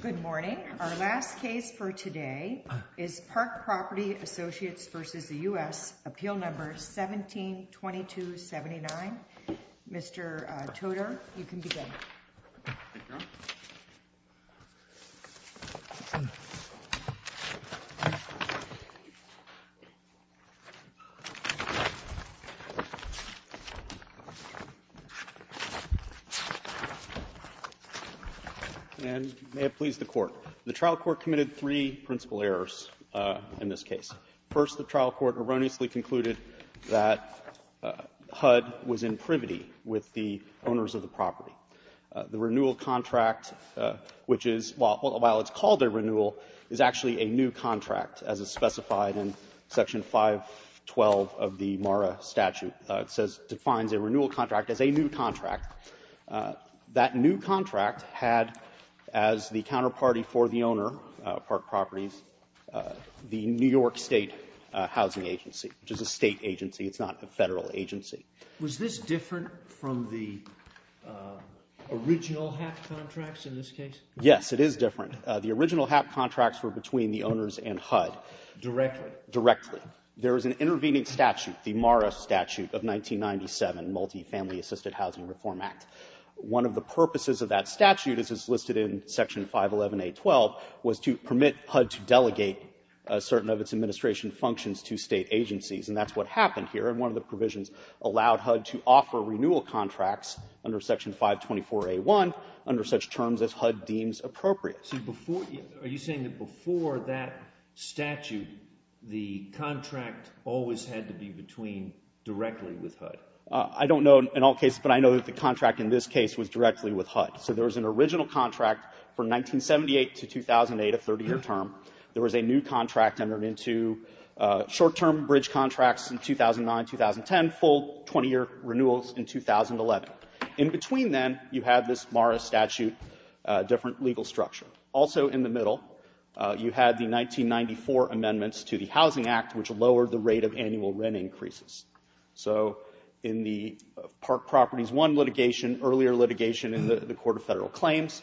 Good morning. Our last case for today is Park Property Associates versus the US Appeal Number 172279. Mr. Toto, you can begin. Toto, and may it please the Court. The trial court committed three principal errors in this case. First, the trial court erroneously concluded that HUD was in privity with the owners of the property. The renewal contract, which is, while it's called a renewal, is actually a new contract, as is specified in Section 512 of the MARA statute. It says, defines a renewal contract as a new contract. That new contract had as the counterparty for the owner, Park Properties, the New York State Housing Agency, which is a State agency. It's not a Federal agency. Was this different from the original HAP contracts in this case? Yes, it is different. The original HAP contracts were between the owners and HUD. Directly? Directly. There is an intervening statute, the MARA statute of 1997, Multi-Family Assisted Housing Reform Act. One of the purposes of that statute, as is listed in Section 511A.12, was to permit HUD to delegate certain of its administration functions to State agencies. And that's what happened here. And one of the provisions allowed HUD to offer renewal contracts under Section 524A.1 under such terms as HUD deems appropriate. So before, are you saying that before that statute, the contract always had to be between directly with HUD? I don't know in all cases, but I know that the contract in this case was directly with HUD. So there was an original contract from 1978 to 2008, a 30-year term. There was a new contract entered into, short-term bridge contracts in 2009, 2010, full 20-year renewals in 2011. In between them, you had this MARA statute, different legal structure. Also in the middle, you had the 1994 amendments to the Housing Act, which lowered the rate of annual rent increases. So in the Park Properties I litigation, earlier litigation in the Court of Federal Claims,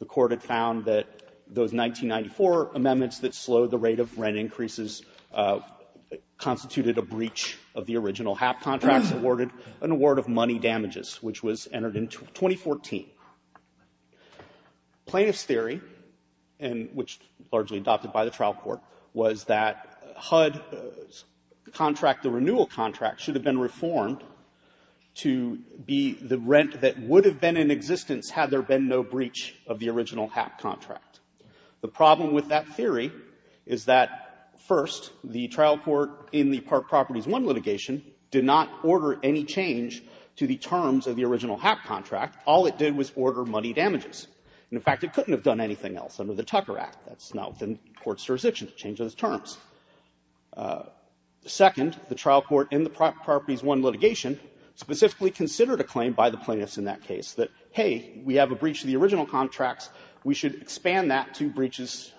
the Court had found that those 1994 amendments that slowed the rate of rent increases constituted a breach of the original HAP contracts, awarded an award of money damages, which was entered in 2014. Plaintiff's theory, and which largely adopted by the trial court, was that HUD's contract, the renewal contract, should have been reformed to be the rent that would have been in existence had there been no breach of the original HAP contract. The problem with that theory is that, first, the trial court in the Park Properties I litigation did not order any change to the terms of the original HAP contract. All it did was order money damages. And, in fact, it couldn't have done anything else under the Tucker Act. That's not within court's jurisdiction to change those terms of the original HAP contract. And, in fact, the trial court in the Park Properties I litigation specifically considered a claim by the plaintiffs in that case that, hey, we have a breach of the original contracts, we should expand that to breaches,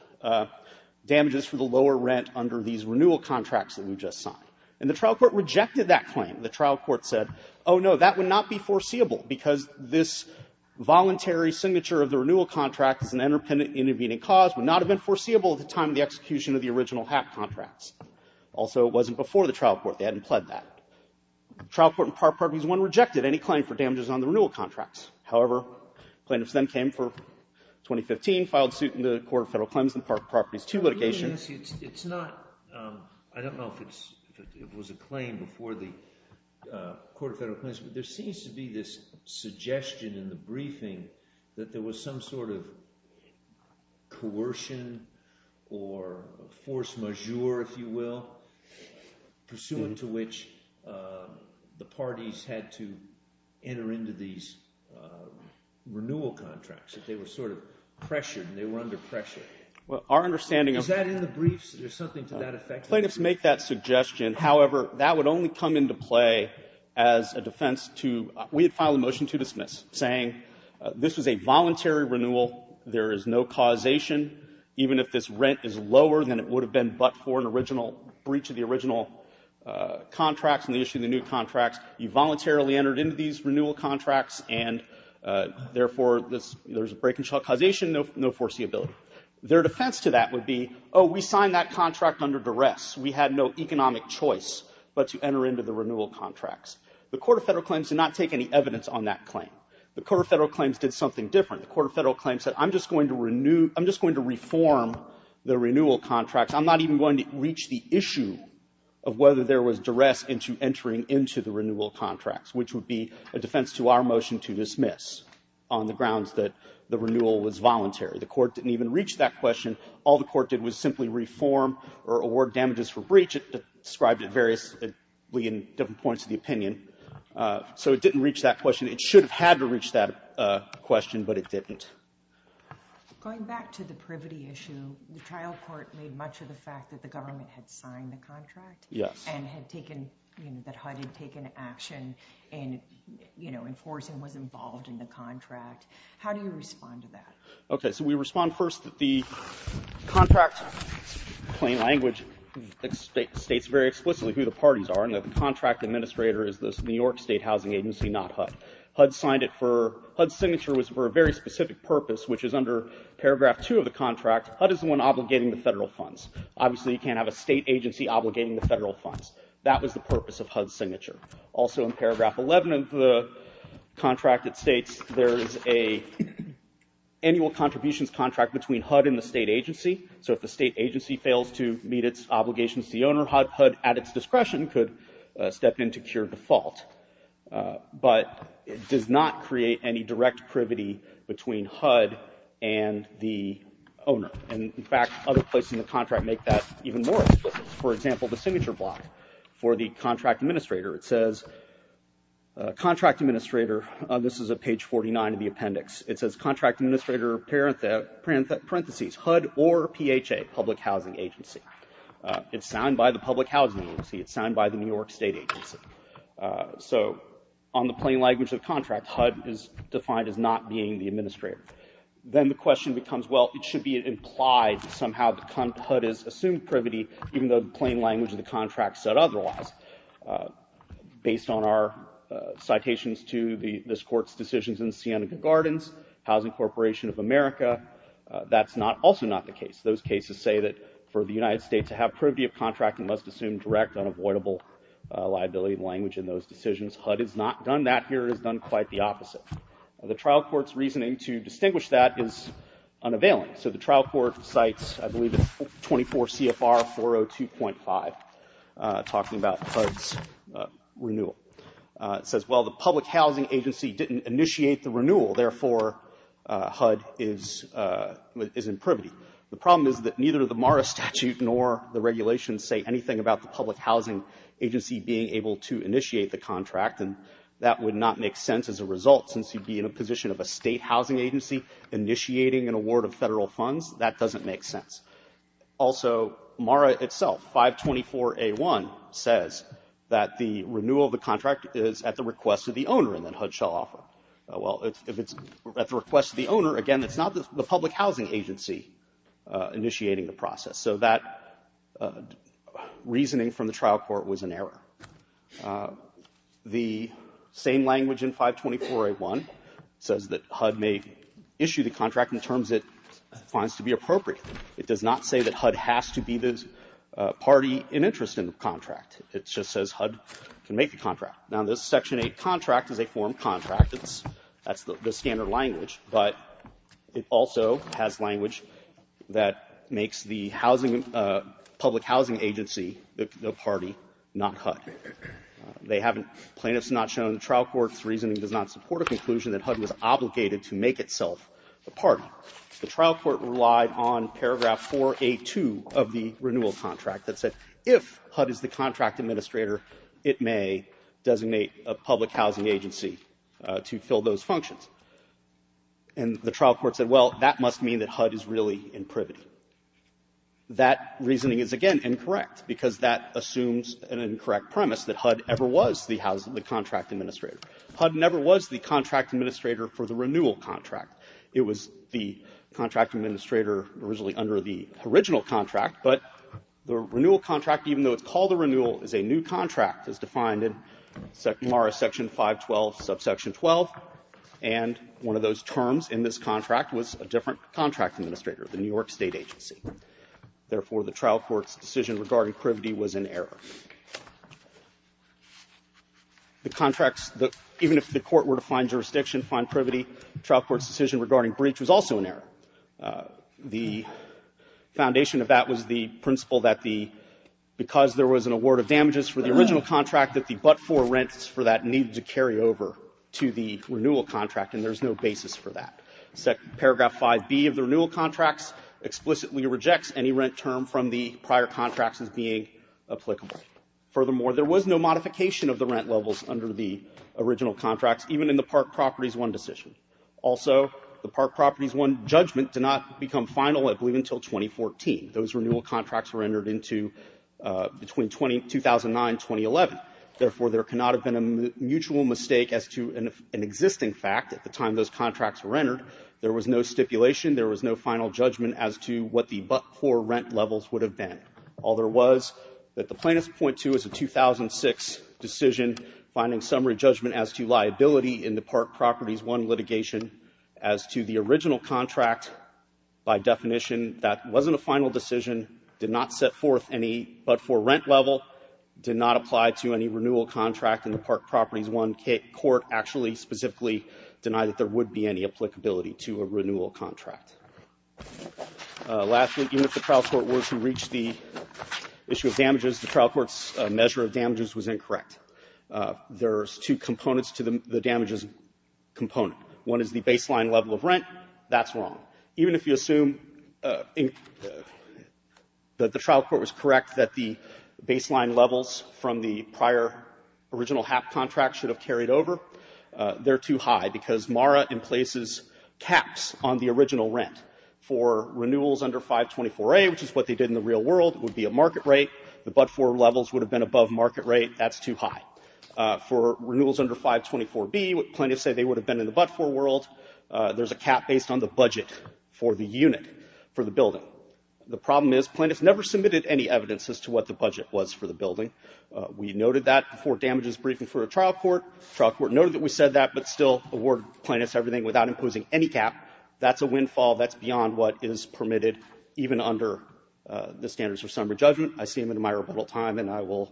damages for the lower rent under these renewal contracts that we just signed. And the trial court rejected that claim. The trial court said, oh, no, that would not be foreseeable because this voluntary breach of the original HAP contract. The trial court, they hadn't pled that. The trial court in Park Properties I rejected any claim for damages on the renewal contracts. However, plaintiffs then came for 2015, filed suit in the Court of Federal Claims in the Park Properties II litigation. It's not, I don't know if it was a claim before the Court of Federal Claims, but there seems to be this suggestion in the briefing that there was some sort of issue to which the parties had to enter into these renewal contracts, that they were sort of pressured and they were under pressure. Well, our understanding of Is that in the briefs? There's something to that effect? Plaintiffs make that suggestion. However, that would only come into play as a defense to, we had filed a motion to dismiss, saying this was a voluntary renewal, there is no causation, even if this rent is lower than it would have been but for an original breach of the contracts and the issue of the new contracts, you voluntarily entered into these renewal contracts and therefore, there's a break-and-shut causation, no foreseeability. Their defense to that would be, oh, we signed that contract under duress, we had no economic choice but to enter into the renewal contracts. The Court of Federal Claims did not take any evidence on that claim. The Court of Federal Claims did something different. The Court of Federal Claims said, I'm just going to reform the renewal contracts, I'm not even going to reach the issue of whether there was duress into entering into the renewal contracts, which would be a defense to our motion to dismiss on the grounds that the renewal was voluntary. The Court didn't even reach that question. All the Court did was simply reform or award damages for breach. It described it variously in different points of the opinion. So it didn't reach that question. It should have had to reach that question, but it didn't. Going back to the privity issue, the trial court made much of the fact that the government had signed the contract and had taken, that HUD had taken action in enforcing, was involved in the contract. How do you respond to that? Okay, so we respond first that the contract plain language states very explicitly who the parties are and that the contract administrator is the New York State Housing Agency, not HUD. HUD signed it for, HUD's signature was for a very specific purpose, which is under Paragraph 2 of the contract, HUD is the one obligating the federal funds. Obviously you can't have a state agency obligating the federal funds. That was the purpose of HUD's signature. Also in Paragraph 11 of the contract it states there is a annual contributions contract between HUD and the state agency. So if the state agency fails to meet its obligations to the owner, HUD, at its discretion, could step in to cure default. But it does not create any direct privity between HUD and the owner. In fact, other places in the contract make that even more explicit. For example, the signature block for the contract administrator, it says contract administrator, this is at page 49 of the appendix, it says contract administrator, parentheses, HUD or PHA, public housing agency. It's signed by the public housing agency, it's signed by the New York State Agency. So on the plain language of the contract, HUD is defined as not being the administrator. Then the question becomes, well, it should be implied somehow that HUD has assumed privity even though the plain language of the contract said otherwise. Based on our citations to this Court's decisions in the Siena Gardens, Housing Corporation of America, that's also not the case. Those cases say that for the United States to have privity of contract and must assume direct, unavoidable liability language in those decisions, HUD has not done that here. It has done quite the opposite. The trial court's reasoning to distinguish that is unavailing. So the trial court cites, I believe it's 24 CFR 402.5, talking about HUD's renewal. It says, well, the public housing agency didn't initiate the renewal, therefore HUD is in privity. The problem is that neither the MARA statute nor the regulations can say anything about the public housing agency being able to initiate the contract and that would not make sense as a result since you'd be in a position of a state housing agency initiating an award of federal funds. That doesn't make sense. Also, MARA itself, 524A1, says that the renewal of the contract is at the request of the owner and then HUD shall offer. Well, if it's at the request of the owner, again, it's not the public housing agency initiating the process. So that reasoning from the trial court was an error. The same language in 524A1 says that HUD may issue the contract in terms it finds to be appropriate. It does not say that HUD has to be the party in interest in the contract. It just says HUD can make the contract. Now, this Section 8 contract is a form contract. That's the standard language. But it also has language that makes the housing – public housing agency the party, not HUD. They haven't – plaintiffs have not shown the trial court's reasoning does not support a conclusion that HUD was obligated to make itself a party. The trial court relied on paragraph 482 of the renewal contract that said if HUD is the contract administrator, it may designate a public housing agency to fill those functions. And the trial court said, well, that must mean that HUD is really in privity. That reasoning is, again, incorrect because that assumes an incorrect premise that HUD ever was the contract administrator. HUD never was the contract administrator for the renewal contract. It was the contract administrator originally under the original contract, but the renewal contract, even though it's called a renewal, is a new contract as defined in MARA Section 512, subsection 12. And one of those terms in this contract was a different contract administrator, the New York State agency. Therefore, the trial court's decision regarding privity was in error. The contracts – even if the court were to find jurisdiction, find privity, the trial court's decision regarding breach was also in error. The foundation of that was the principle that the – because there was an award of damages for the original contract that the but-for rents for that need to carry over to the renewal contract, and there's no basis for that. Paragraph 5B of the renewal contracts explicitly rejects any rent term from the prior contracts as being applicable. Furthermore, there was no modification of the rent levels under the original contracts, even in the Park Properties I decision. Also, the Park Properties I judgment did not become final, I believe, until 2014. Those renewal contracts were entered into between 2009 and 2011. Therefore, there cannot have been a mutual mistake as to an existing fact at the time those contracts were entered. There was no stipulation. There was no final judgment as to what the but-for rent levels would have been. All there was that the plaintiffs point to is a 2006 decision finding summary judgment as to liability in the Park Properties I litigation as to the original contract by definition that wasn't a final decision, did not set forth any but-for rent level, did not apply to any renewal contract in the Park Properties I court, actually specifically denied that there would be any applicability to a renewal contract. Lastly, even if the trial court were to reach the issue of damages, the trial court's measure of damages was incorrect. There's two components to the damages component. One is the baseline level of rent. That's wrong. Even if you assume that the trial court was correct that the baseline levels from the prior original HAP contract should have carried over, they're too high because MARA emplaces caps on the original rent. For renewals under 524A, which is what they did in the real world, would be a market rate. The but-for levels would have been above market rate. That's too high. For renewals under 524B, plaintiffs say they would have been in the but-for world. There's a cap based on the budget for the unit, for the building. The problem is plaintiffs never submitted any evidence as to what the budget was for the building. We noted that before damages briefing for a trial court. Trial court noted that we said that, but still awarded plaintiffs everything without imposing any cap. That's a windfall. That's beyond what is permitted even under the standards for summary judgment. I see them in my rebuttal time, and I will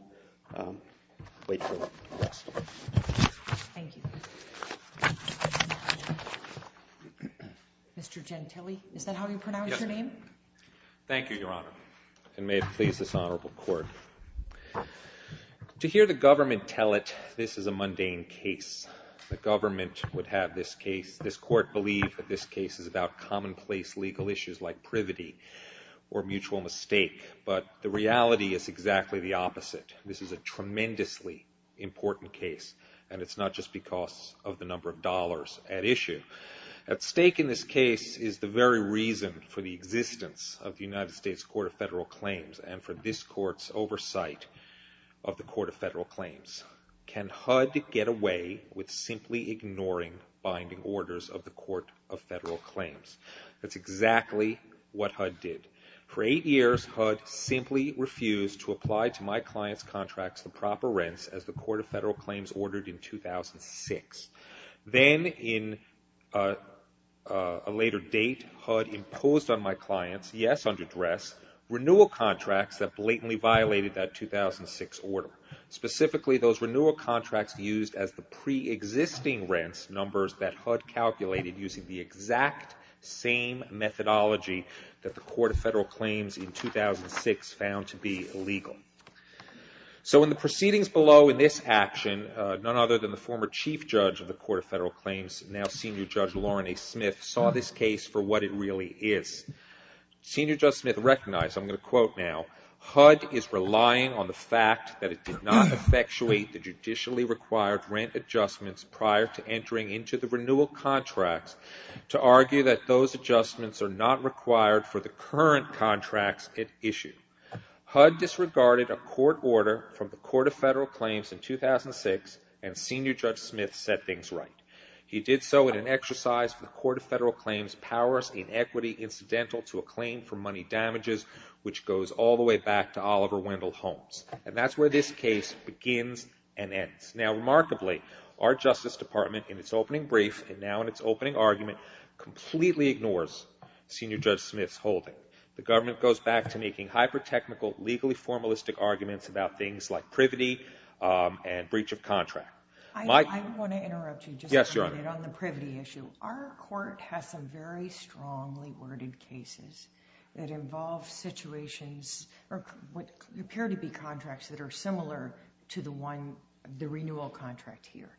wait for them. Thank you. Mr. Gentile, is that how you pronounce your name? Thank you, Your Honor, and may it please this honorable court. To hear the government tell it this is a mundane case, the government would have this case. This court believed that this case is about commonplace legal issues like privity or mutual mistake, but the reality is exactly the opposite. This is a tremendously important case, and it's not just because of the number of dollars at issue. At stake in this case is the very reason for the existence of the United States Court of Federal Claims and for this court's oversight of the Court of Federal Claims. Can HUD get away with simply ignoring binding orders of the Court of Federal Claims? That's exactly what HUD did. For eight years, HUD simply refused to apply to my clients' contracts the proper rents as the Court of Federal Claims ordered in 2006. Then, in a later date, HUD imposed on my clients, yes, under duress, renewal contracts that blatantly violated that 2006 order. Specifically, those renewal contracts used as the preexisting rents numbers that HUD calculated using the exact same methodology that the Court of Federal Claims in 2006 found to be legal. So in the proceedings below in this action, none other than the former Chief Judge of the Court of Federal Claims, now Senior Judge Lauren A. Smith, saw this case for what it really is. Senior Judge Smith recognized, I'm going to quote now, HUD is relying on the fact that it did not effectuate the judicially required rent adjustments prior to entering into the renewal contracts to argue that those adjustments are not required for the current contracts it issued. HUD disregarded a court order from the Court of Federal Claims in 2006, and Senior Judge Smith said things right. He did so in an exercise for the Court of Federal Claims' powers in equity incidental to a claim for money damages, which goes all the way back to Oliver Wendell Holmes. And that's where this case begins and ends. Now, remarkably, our Justice Department, in its opening brief, and now in its opening argument, completely ignores Senior Judge Smith's holding. The government goes back to making hyper-technical, legally formalistic arguments about things like privity and breach of contract. I want to interrupt you just a minute on the privity issue. Our court has some very strongly worded cases that involve situations, or what appear to be contracts, that are similar to the renewal contract here.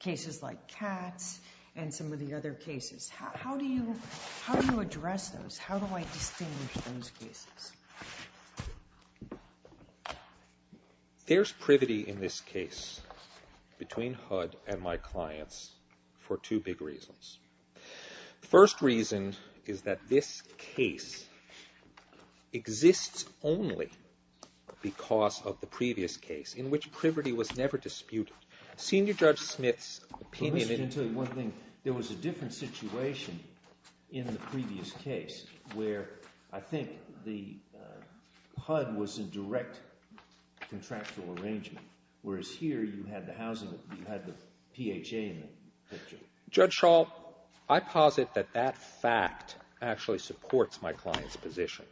Cases like Katz and some of the other cases. How do you address those? How do I distinguish those cases? There's privity in this case between HUD and my clients for two big reasons. The first reason is that this case exists only because of the previous case, in which privity was never disputed. Senior Judge Smith's opinion... Let me tell you one thing. There was a different situation in the previous case, where I think the HUD was a direct contractual arrangement, whereas here you had the housing, you had the PHA in the picture. Judge Schall, I posit that that fact actually supports my client's position.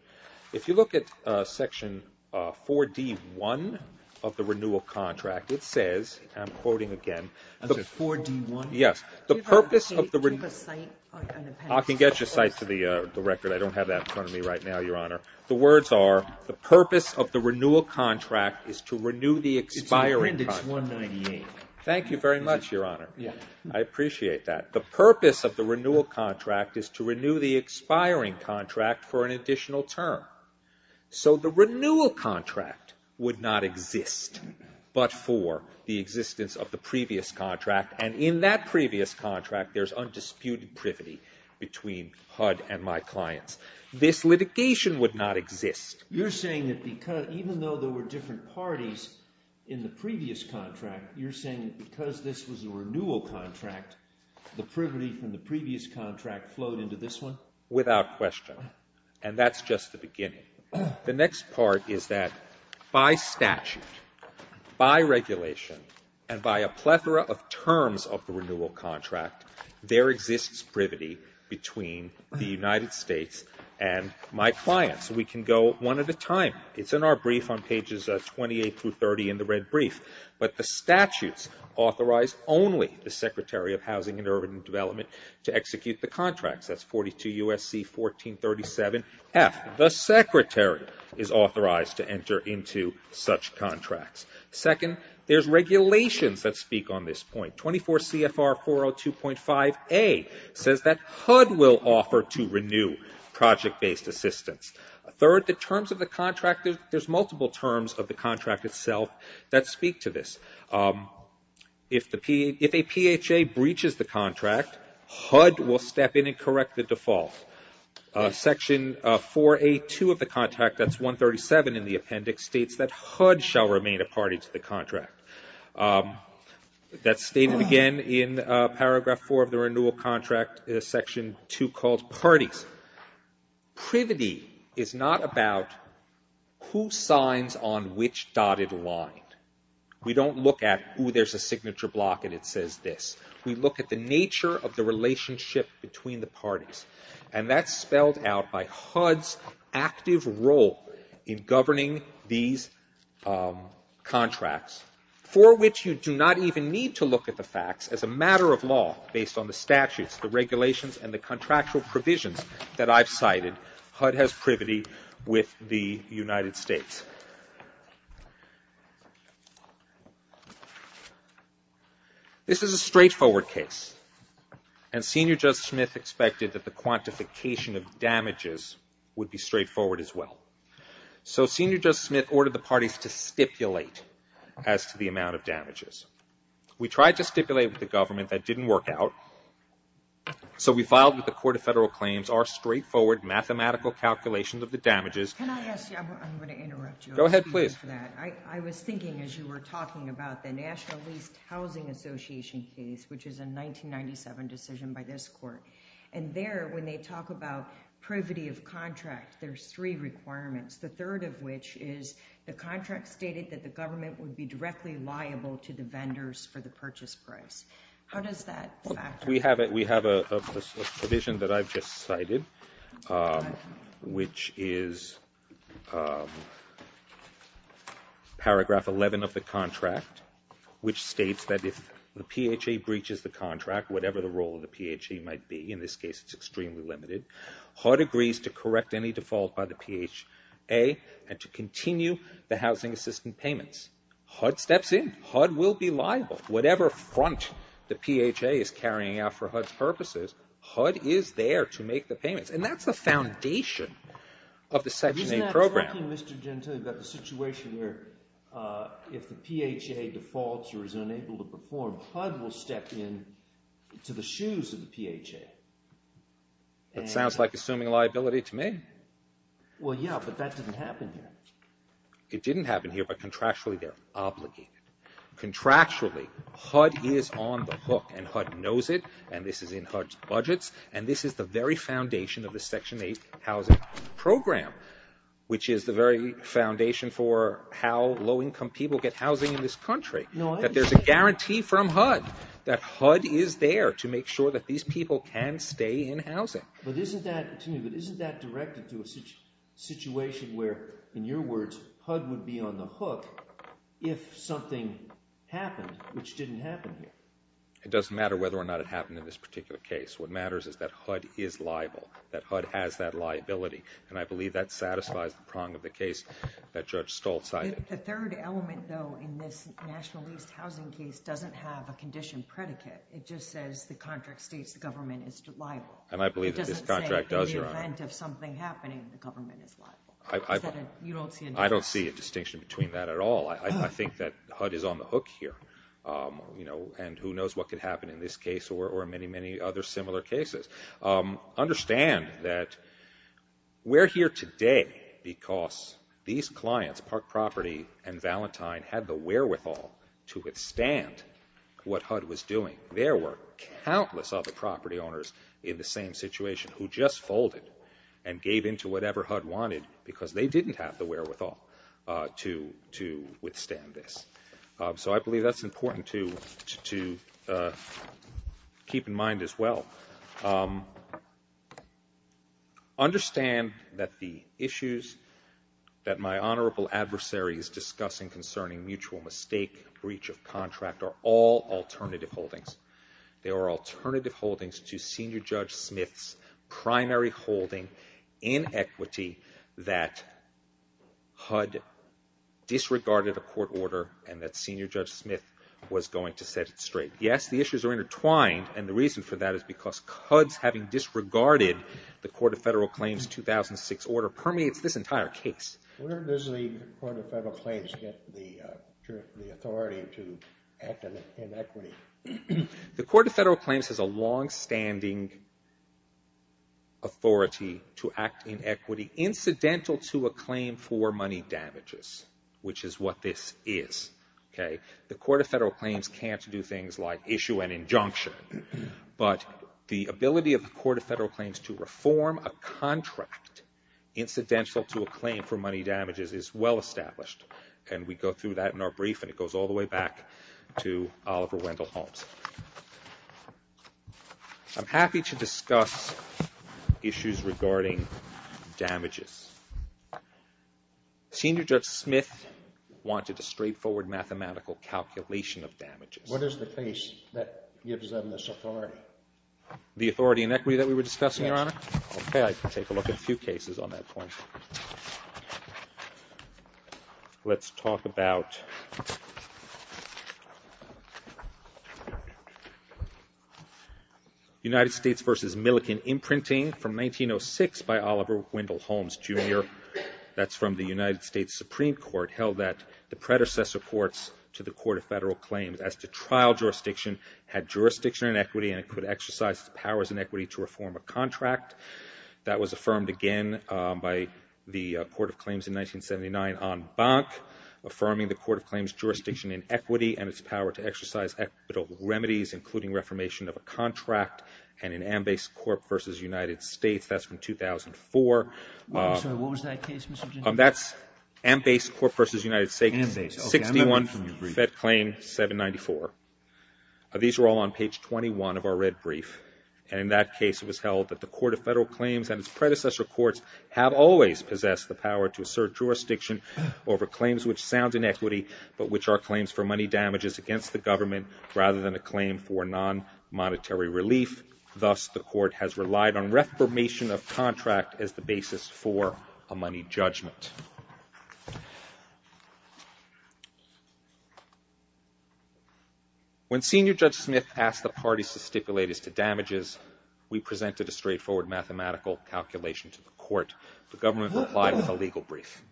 If you look at section 4D1 of the renewal contract, it says, and I'm quoting again... 4D1? Yes. The purpose of the... Can you take a cite? I can get you a cite for the record. I don't have that in front of me right now, Your Honor. The words are, the purpose of the renewal contract is to renew the expiring contract. It's appendix 198. Thank you very much, Your Honor. I appreciate that. The purpose of the renewal contract is to renew the expiring contract for an additional term. So the renewal contract would not exist but for the existence of the previous contract, and in that previous contract, there's undisputed privity between HUD and my clients. This litigation would not exist. You're saying that even though there were different parties in the previous contract, you're saying that because this was a renewal contract, the privity from the previous contract flowed into this one? Without question, and that's just the beginning. The next part is that by statute, by regulation, and by a plethora of terms of the renewal contract, there exists privity between the United States and my clients. We can go one at a time. It's in our brief on pages 28 through 30 in the red brief. But the statutes authorize only the Secretary of Housing and Urban Development to execute the contracts. That's 42 U.S.C. 1437F. The Secretary is authorized to enter into such contracts. Second, there's regulations that speak on this point. 24 CFR 402.5A says that HUD will offer to renew project-based assistance. Third, the terms of the contract, there's multiple terms of the contract itself that speak to this. If a PHA breaches the contract, HUD will step in and correct the default. Section 482 of the contract, that's 137 in the appendix, states that HUD shall remain a party to the contract. That's stated again in paragraph 4 of the renewal contract, section 2 called parties. Privity is not about who signs on which dotted line. We don't look at, oh, there's a signature block and it says this. We look at the nature of the relationship between the parties. And that's spelled out by HUD's active role in governing these contracts, for which you do not even need to look at the facts as a matter of law based on the statutes, the regulations and the contractual provisions that I've cited. HUD has privity with the United States. This is a straightforward case. And Senior Justice Smith expected that the quantification of damages would be straightforward as well. So Senior Justice Smith ordered the parties to stipulate as to the amount of damages. We tried to stipulate with the government. That didn't work out. So we filed with the Court of Federal Claims our straightforward mathematical calculations of the damages. Can I ask you? I'm going to interrupt you. Go ahead, please. I was thinking as you were talking about the National Leased Housing Association case, which is a 1997 decision by this court. And there, when they talk about privity of contract, there's three requirements. The third of which is the contract stated that the government would be directly liable to the vendors for the purchase price. How does that factor? We have a provision that I've just cited, which is paragraph 11 of the contract, which states that if the PHA breaches the contract, whatever the role of the PHA might be, in this case it's extremely limited, HUD agrees to correct any default by the PHA and to continue the housing assistant payments. HUD steps in. HUD will be liable. Whatever front the PHA is carrying out for HUD's purposes, HUD is there to make the payments. And that's the foundation of the Section 8 program. But isn't that talking, Mr. Gentile, about the situation where if the PHA defaults or is unable to perform, HUD will step in to the shoes of the PHA? That sounds like assuming liability to me. Well, yeah, but that didn't happen here. It didn't happen here, but contractually they're obligated. Contractually, HUD is on the hook, and HUD knows it, and this is in HUD's budgets, and this is the very foundation of the Section 8 housing program, which is the very foundation for how low-income people get housing in this country, that there's a guarantee from HUD that HUD is there to make sure that these people can stay in housing. But isn't that directed to a situation where, in your words, HUD would be on the hook if something happened, which didn't happen here? It doesn't matter whether or not it happened in this particular case. What matters is that HUD is liable, that HUD has that liability, and I believe that satisfies the prong of the case that Judge Stoltz cited. The third element, though, in this National Leased Housing case doesn't have a condition predicate. It just says the contract states the government is liable. And I believe that this contract does, Your Honor. I don't see a distinction between that at all. I think that HUD is on the hook here, and who knows what could happen in this case or many, many other similar cases. Understand that we're here today because these clients, Park Property and Valentine, had the wherewithal to withstand what HUD was doing. There were countless other property owners in the same situation who just folded and gave in to whatever HUD wanted because they didn't have the wherewithal to withstand this. So I believe that's important to keep in mind as well. Understand that the issues that my honorable adversary is discussing concerning mutual mistake, breach of contract, are all alternative holdings. They are alternative holdings to Senior Judge Smith's primary holding, inequity, that HUD disregarded a court order and that Senior Judge Smith was going to set it straight. Yes, the issues are intertwined, and the reason for that is because HUD's having disregarded the Court of Federal Claims 2006 order permeates this entire case. Where does the Court of Federal Claims get the authority to act in equity? The Court of Federal Claims has a longstanding authority to act in equity incidental to a claim for money damages, which is what this is. The Court of Federal Claims can't do things like issue an injunction, but the ability of the Court of Federal Claims to reform a contract incidental to a claim for money damages is well established, and we go through that in our brief, and it goes all the way back to Oliver Wendell Holmes. I'm happy to discuss issues regarding damages. Senior Judge Smith wanted a straightforward mathematical calculation of damages. What is the case that gives them this authority? The authority in equity that we were discussing, Your Honor? Okay, I can take a look at a few cases on that point. Let's talk about United States v. Milliken imprinting from 1906 by Oliver Wendell Holmes, Jr. That's from the United States Supreme Court held that the predecessor courts to the Court of Federal Claims as to trial jurisdiction had jurisdiction in equity and it could exercise its powers in equity to reform a contract. That was affirmed again by the Court of Claims in 1979 on Bank, affirming the Court of Claims jurisdiction in equity and its power to exercise equitable remedies, including reformation of a contract, and in Ambase Corp. v. United States, that's from 2004. I'm sorry, what was that case, Mr. Gingrich? That's Ambase Corp. v. United States, 61, Fed Claim 794. These were all on page 21 of our red brief. In that case, it was held that the Court of Federal Claims and its predecessor courts have always possessed the power to assert jurisdiction over claims which sound in equity but which are claims for money damages against the government rather than a claim for non-monetary relief. Thus, the Court has relied on reformation of contract as the basis for a money judgment. When Senior Judge Smith asked the parties to stipulate as to damages, we presented a straightforward mathematical calculation to the court. The government replied with a legal brief.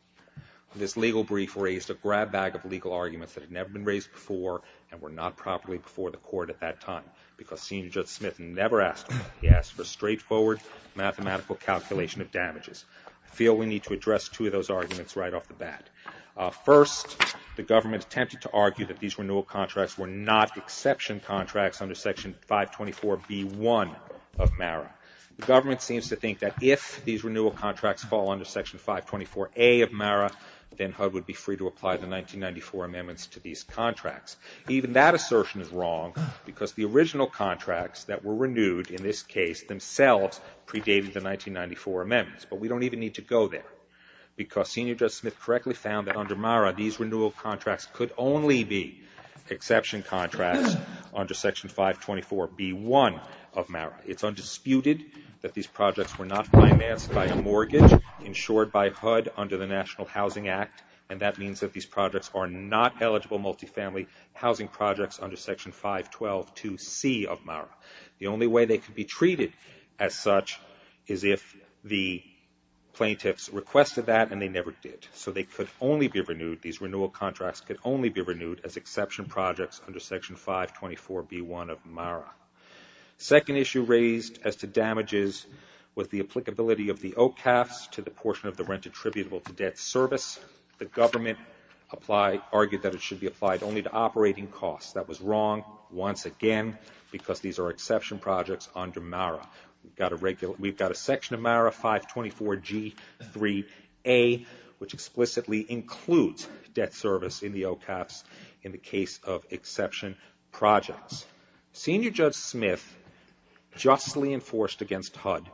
This legal brief raised a grab bag of legal arguments that had never been raised before and were not properly before the court at that time because Senior Judge Smith never asked for it. He asked for a straightforward mathematical calculation of damages. I feel we need to address two of those issues. First, the government attempted to argue that these renewal contracts were not exception contracts under Section 524B1 of MARA. The government seems to think that if these renewal contracts fall under Section 524A of MARA, then HUD would be free to apply the 1994 amendments to these contracts. Even that assertion is wrong because the original contracts that were renewed in this case themselves predated the 1994 amendments. But we don't even need to go there because Senior Judge Smith correctly found that under MARA these renewal contracts could only be exception contracts under Section 524B1 of MARA. It's undisputed that these projects were not financed by a mortgage insured by HUD under the National Housing Act, and that means that these projects are not eligible multifamily housing projects under Section 5122C of MARA. The only way they could be treated as such is if the plaintiffs requested that and they never did. So they could only be renewed, these renewal contracts could only be renewed as exception projects under Section 524B1 of MARA. The second issue raised as to damages was the applicability of the OCAFs to the portion of the rent attributable to debt service. The government argued that it should be applied only to operating costs. That was wrong once again because these are exception projects under MARA. We've got a section of MARA, 524G3A, which explicitly includes debt service in the OCAFs in the case of exception projects. Senior Judge Smith justly enforced against HUD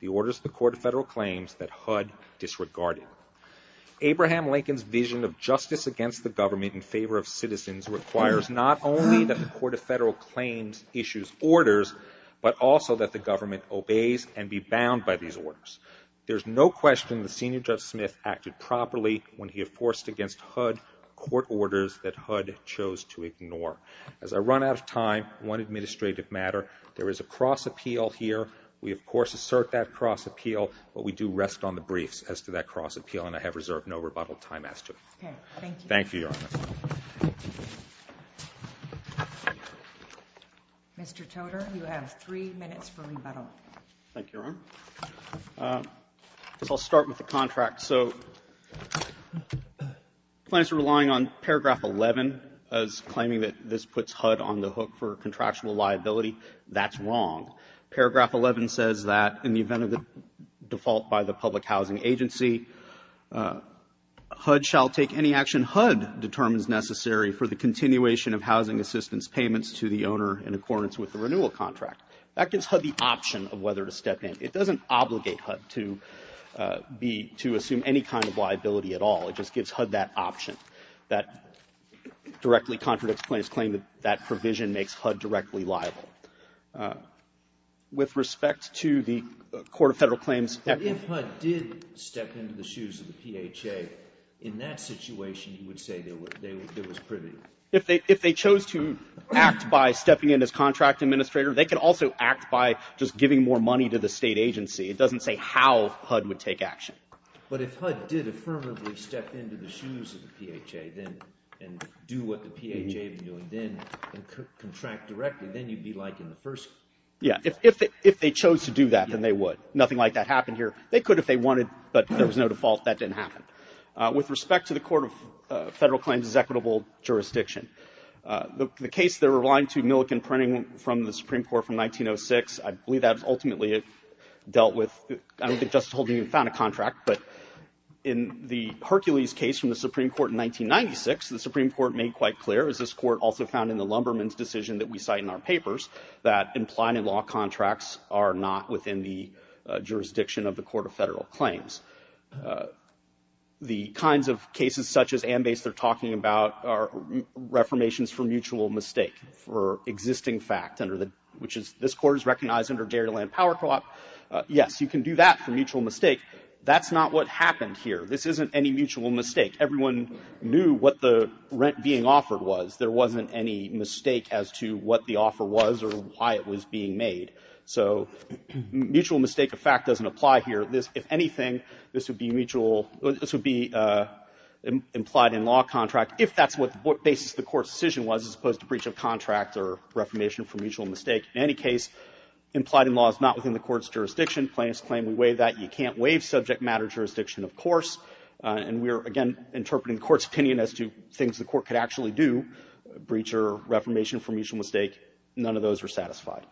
the orders of the Court of Federal Claims that HUD disregarded. Abraham Lincoln's vision of justice against the government in favor of citizens requires not only that the Court of Federal Claims but also that the government obeys and be bound by these orders. There's no question that Senior Judge Smith acted properly when he enforced against HUD court orders that HUD chose to ignore. As I run out of time, one administrative matter. There is a cross-appeal here. We, of course, assert that cross-appeal, but we do rest on the briefs as to that cross-appeal, and I have reserved no rebuttal time as to it. Thank you, Your Honor. Mr. Toder, you have three minutes for rebuttal. Thank you, Your Honor. I guess I'll start with the contract. So plans are relying on paragraph 11 as claiming that this puts HUD on the hook for contractual liability. That's wrong. Paragraph 11 says that in the event of the default by the public housing agency, HUD shall take any action HUD determines necessary for the continuation of housing assistance payments to the owner in accordance with the renewal contract. That gives HUD the option of whether to step in. It doesn't obligate HUD to assume any kind of liability at all. It just gives HUD that option. That directly contradicts plaintiff's claim that that provision makes HUD directly liable. With respect to the Court of Federal Claims... If HUD did step into the shoes of the PHA, in that situation, you would say there was privity? If they chose to act by stepping in as contract administrator, they could also act by just giving more money to the state agency. It doesn't say how HUD would take action. But if HUD did affirmatively step into the shoes of the PHA and do what the PHA would do and contract directly, then you'd be liking the first... Yeah, if they chose to do that, then they would. Nothing like that happened here. They could if they wanted, but there was no default. That didn't happen. With respect to the Court of Federal Claims' equitable jurisdiction, the case they're relying to Milliken Printing from the Supreme Court from 1906, I believe that ultimately dealt with... I don't think Justice Holden even found a contract, but in the Hercules case from the Supreme Court in 1996, the Supreme Court made quite clear, as this Court also found in the Lumberman's decision that we cite in our papers, that implied-in-law contracts are not within the jurisdiction of the Court of Federal Claims. The kinds of cases such as AMBASE they're talking about are reformations for mutual mistake, for existing fact, which this Court has recognized under Dairyland Power Co-op. Yes, you can do that for mutual mistake. That's not what happened here. This isn't any mutual mistake. Everyone knew what the rent being offered was. There wasn't any mistake as to what the offer was or why it was being made. So mutual mistake of fact doesn't apply here. If anything, this would be implied-in-law contract, if that's what the basis of the Court's decision was, as opposed to breach of contract or reformation for mutual mistake. In any case, implied-in-law is not within the Court's jurisdiction. Plaintiffs claim we waive that. You can't waive subject-matter jurisdiction, of course. And we are, again, interpreting the Court's opinion as to things the Court could actually do, breach or reformation for mutual mistake. None of those are satisfied.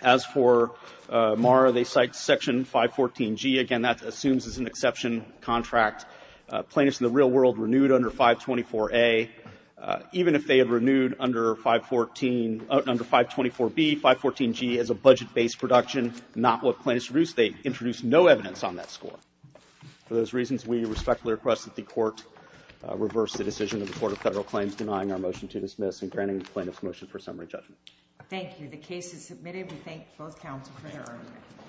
As for MARA, they cite Section 514G. Again, that assumes it's an exception contract. Plaintiffs in the real world renewed under 524A. Even if they had renewed under 514 under 524B, 514G is a budget-based production, not what plaintiffs introduced. They introduced no evidence on that score. For those reasons, we respectfully request that the Court reverse the decision of the Court of Federal Claims denying our motion to dismiss and granting the plaintiffs' motion for summary judgment. Thank you. The case is submitted. We thank both counsel for their argument.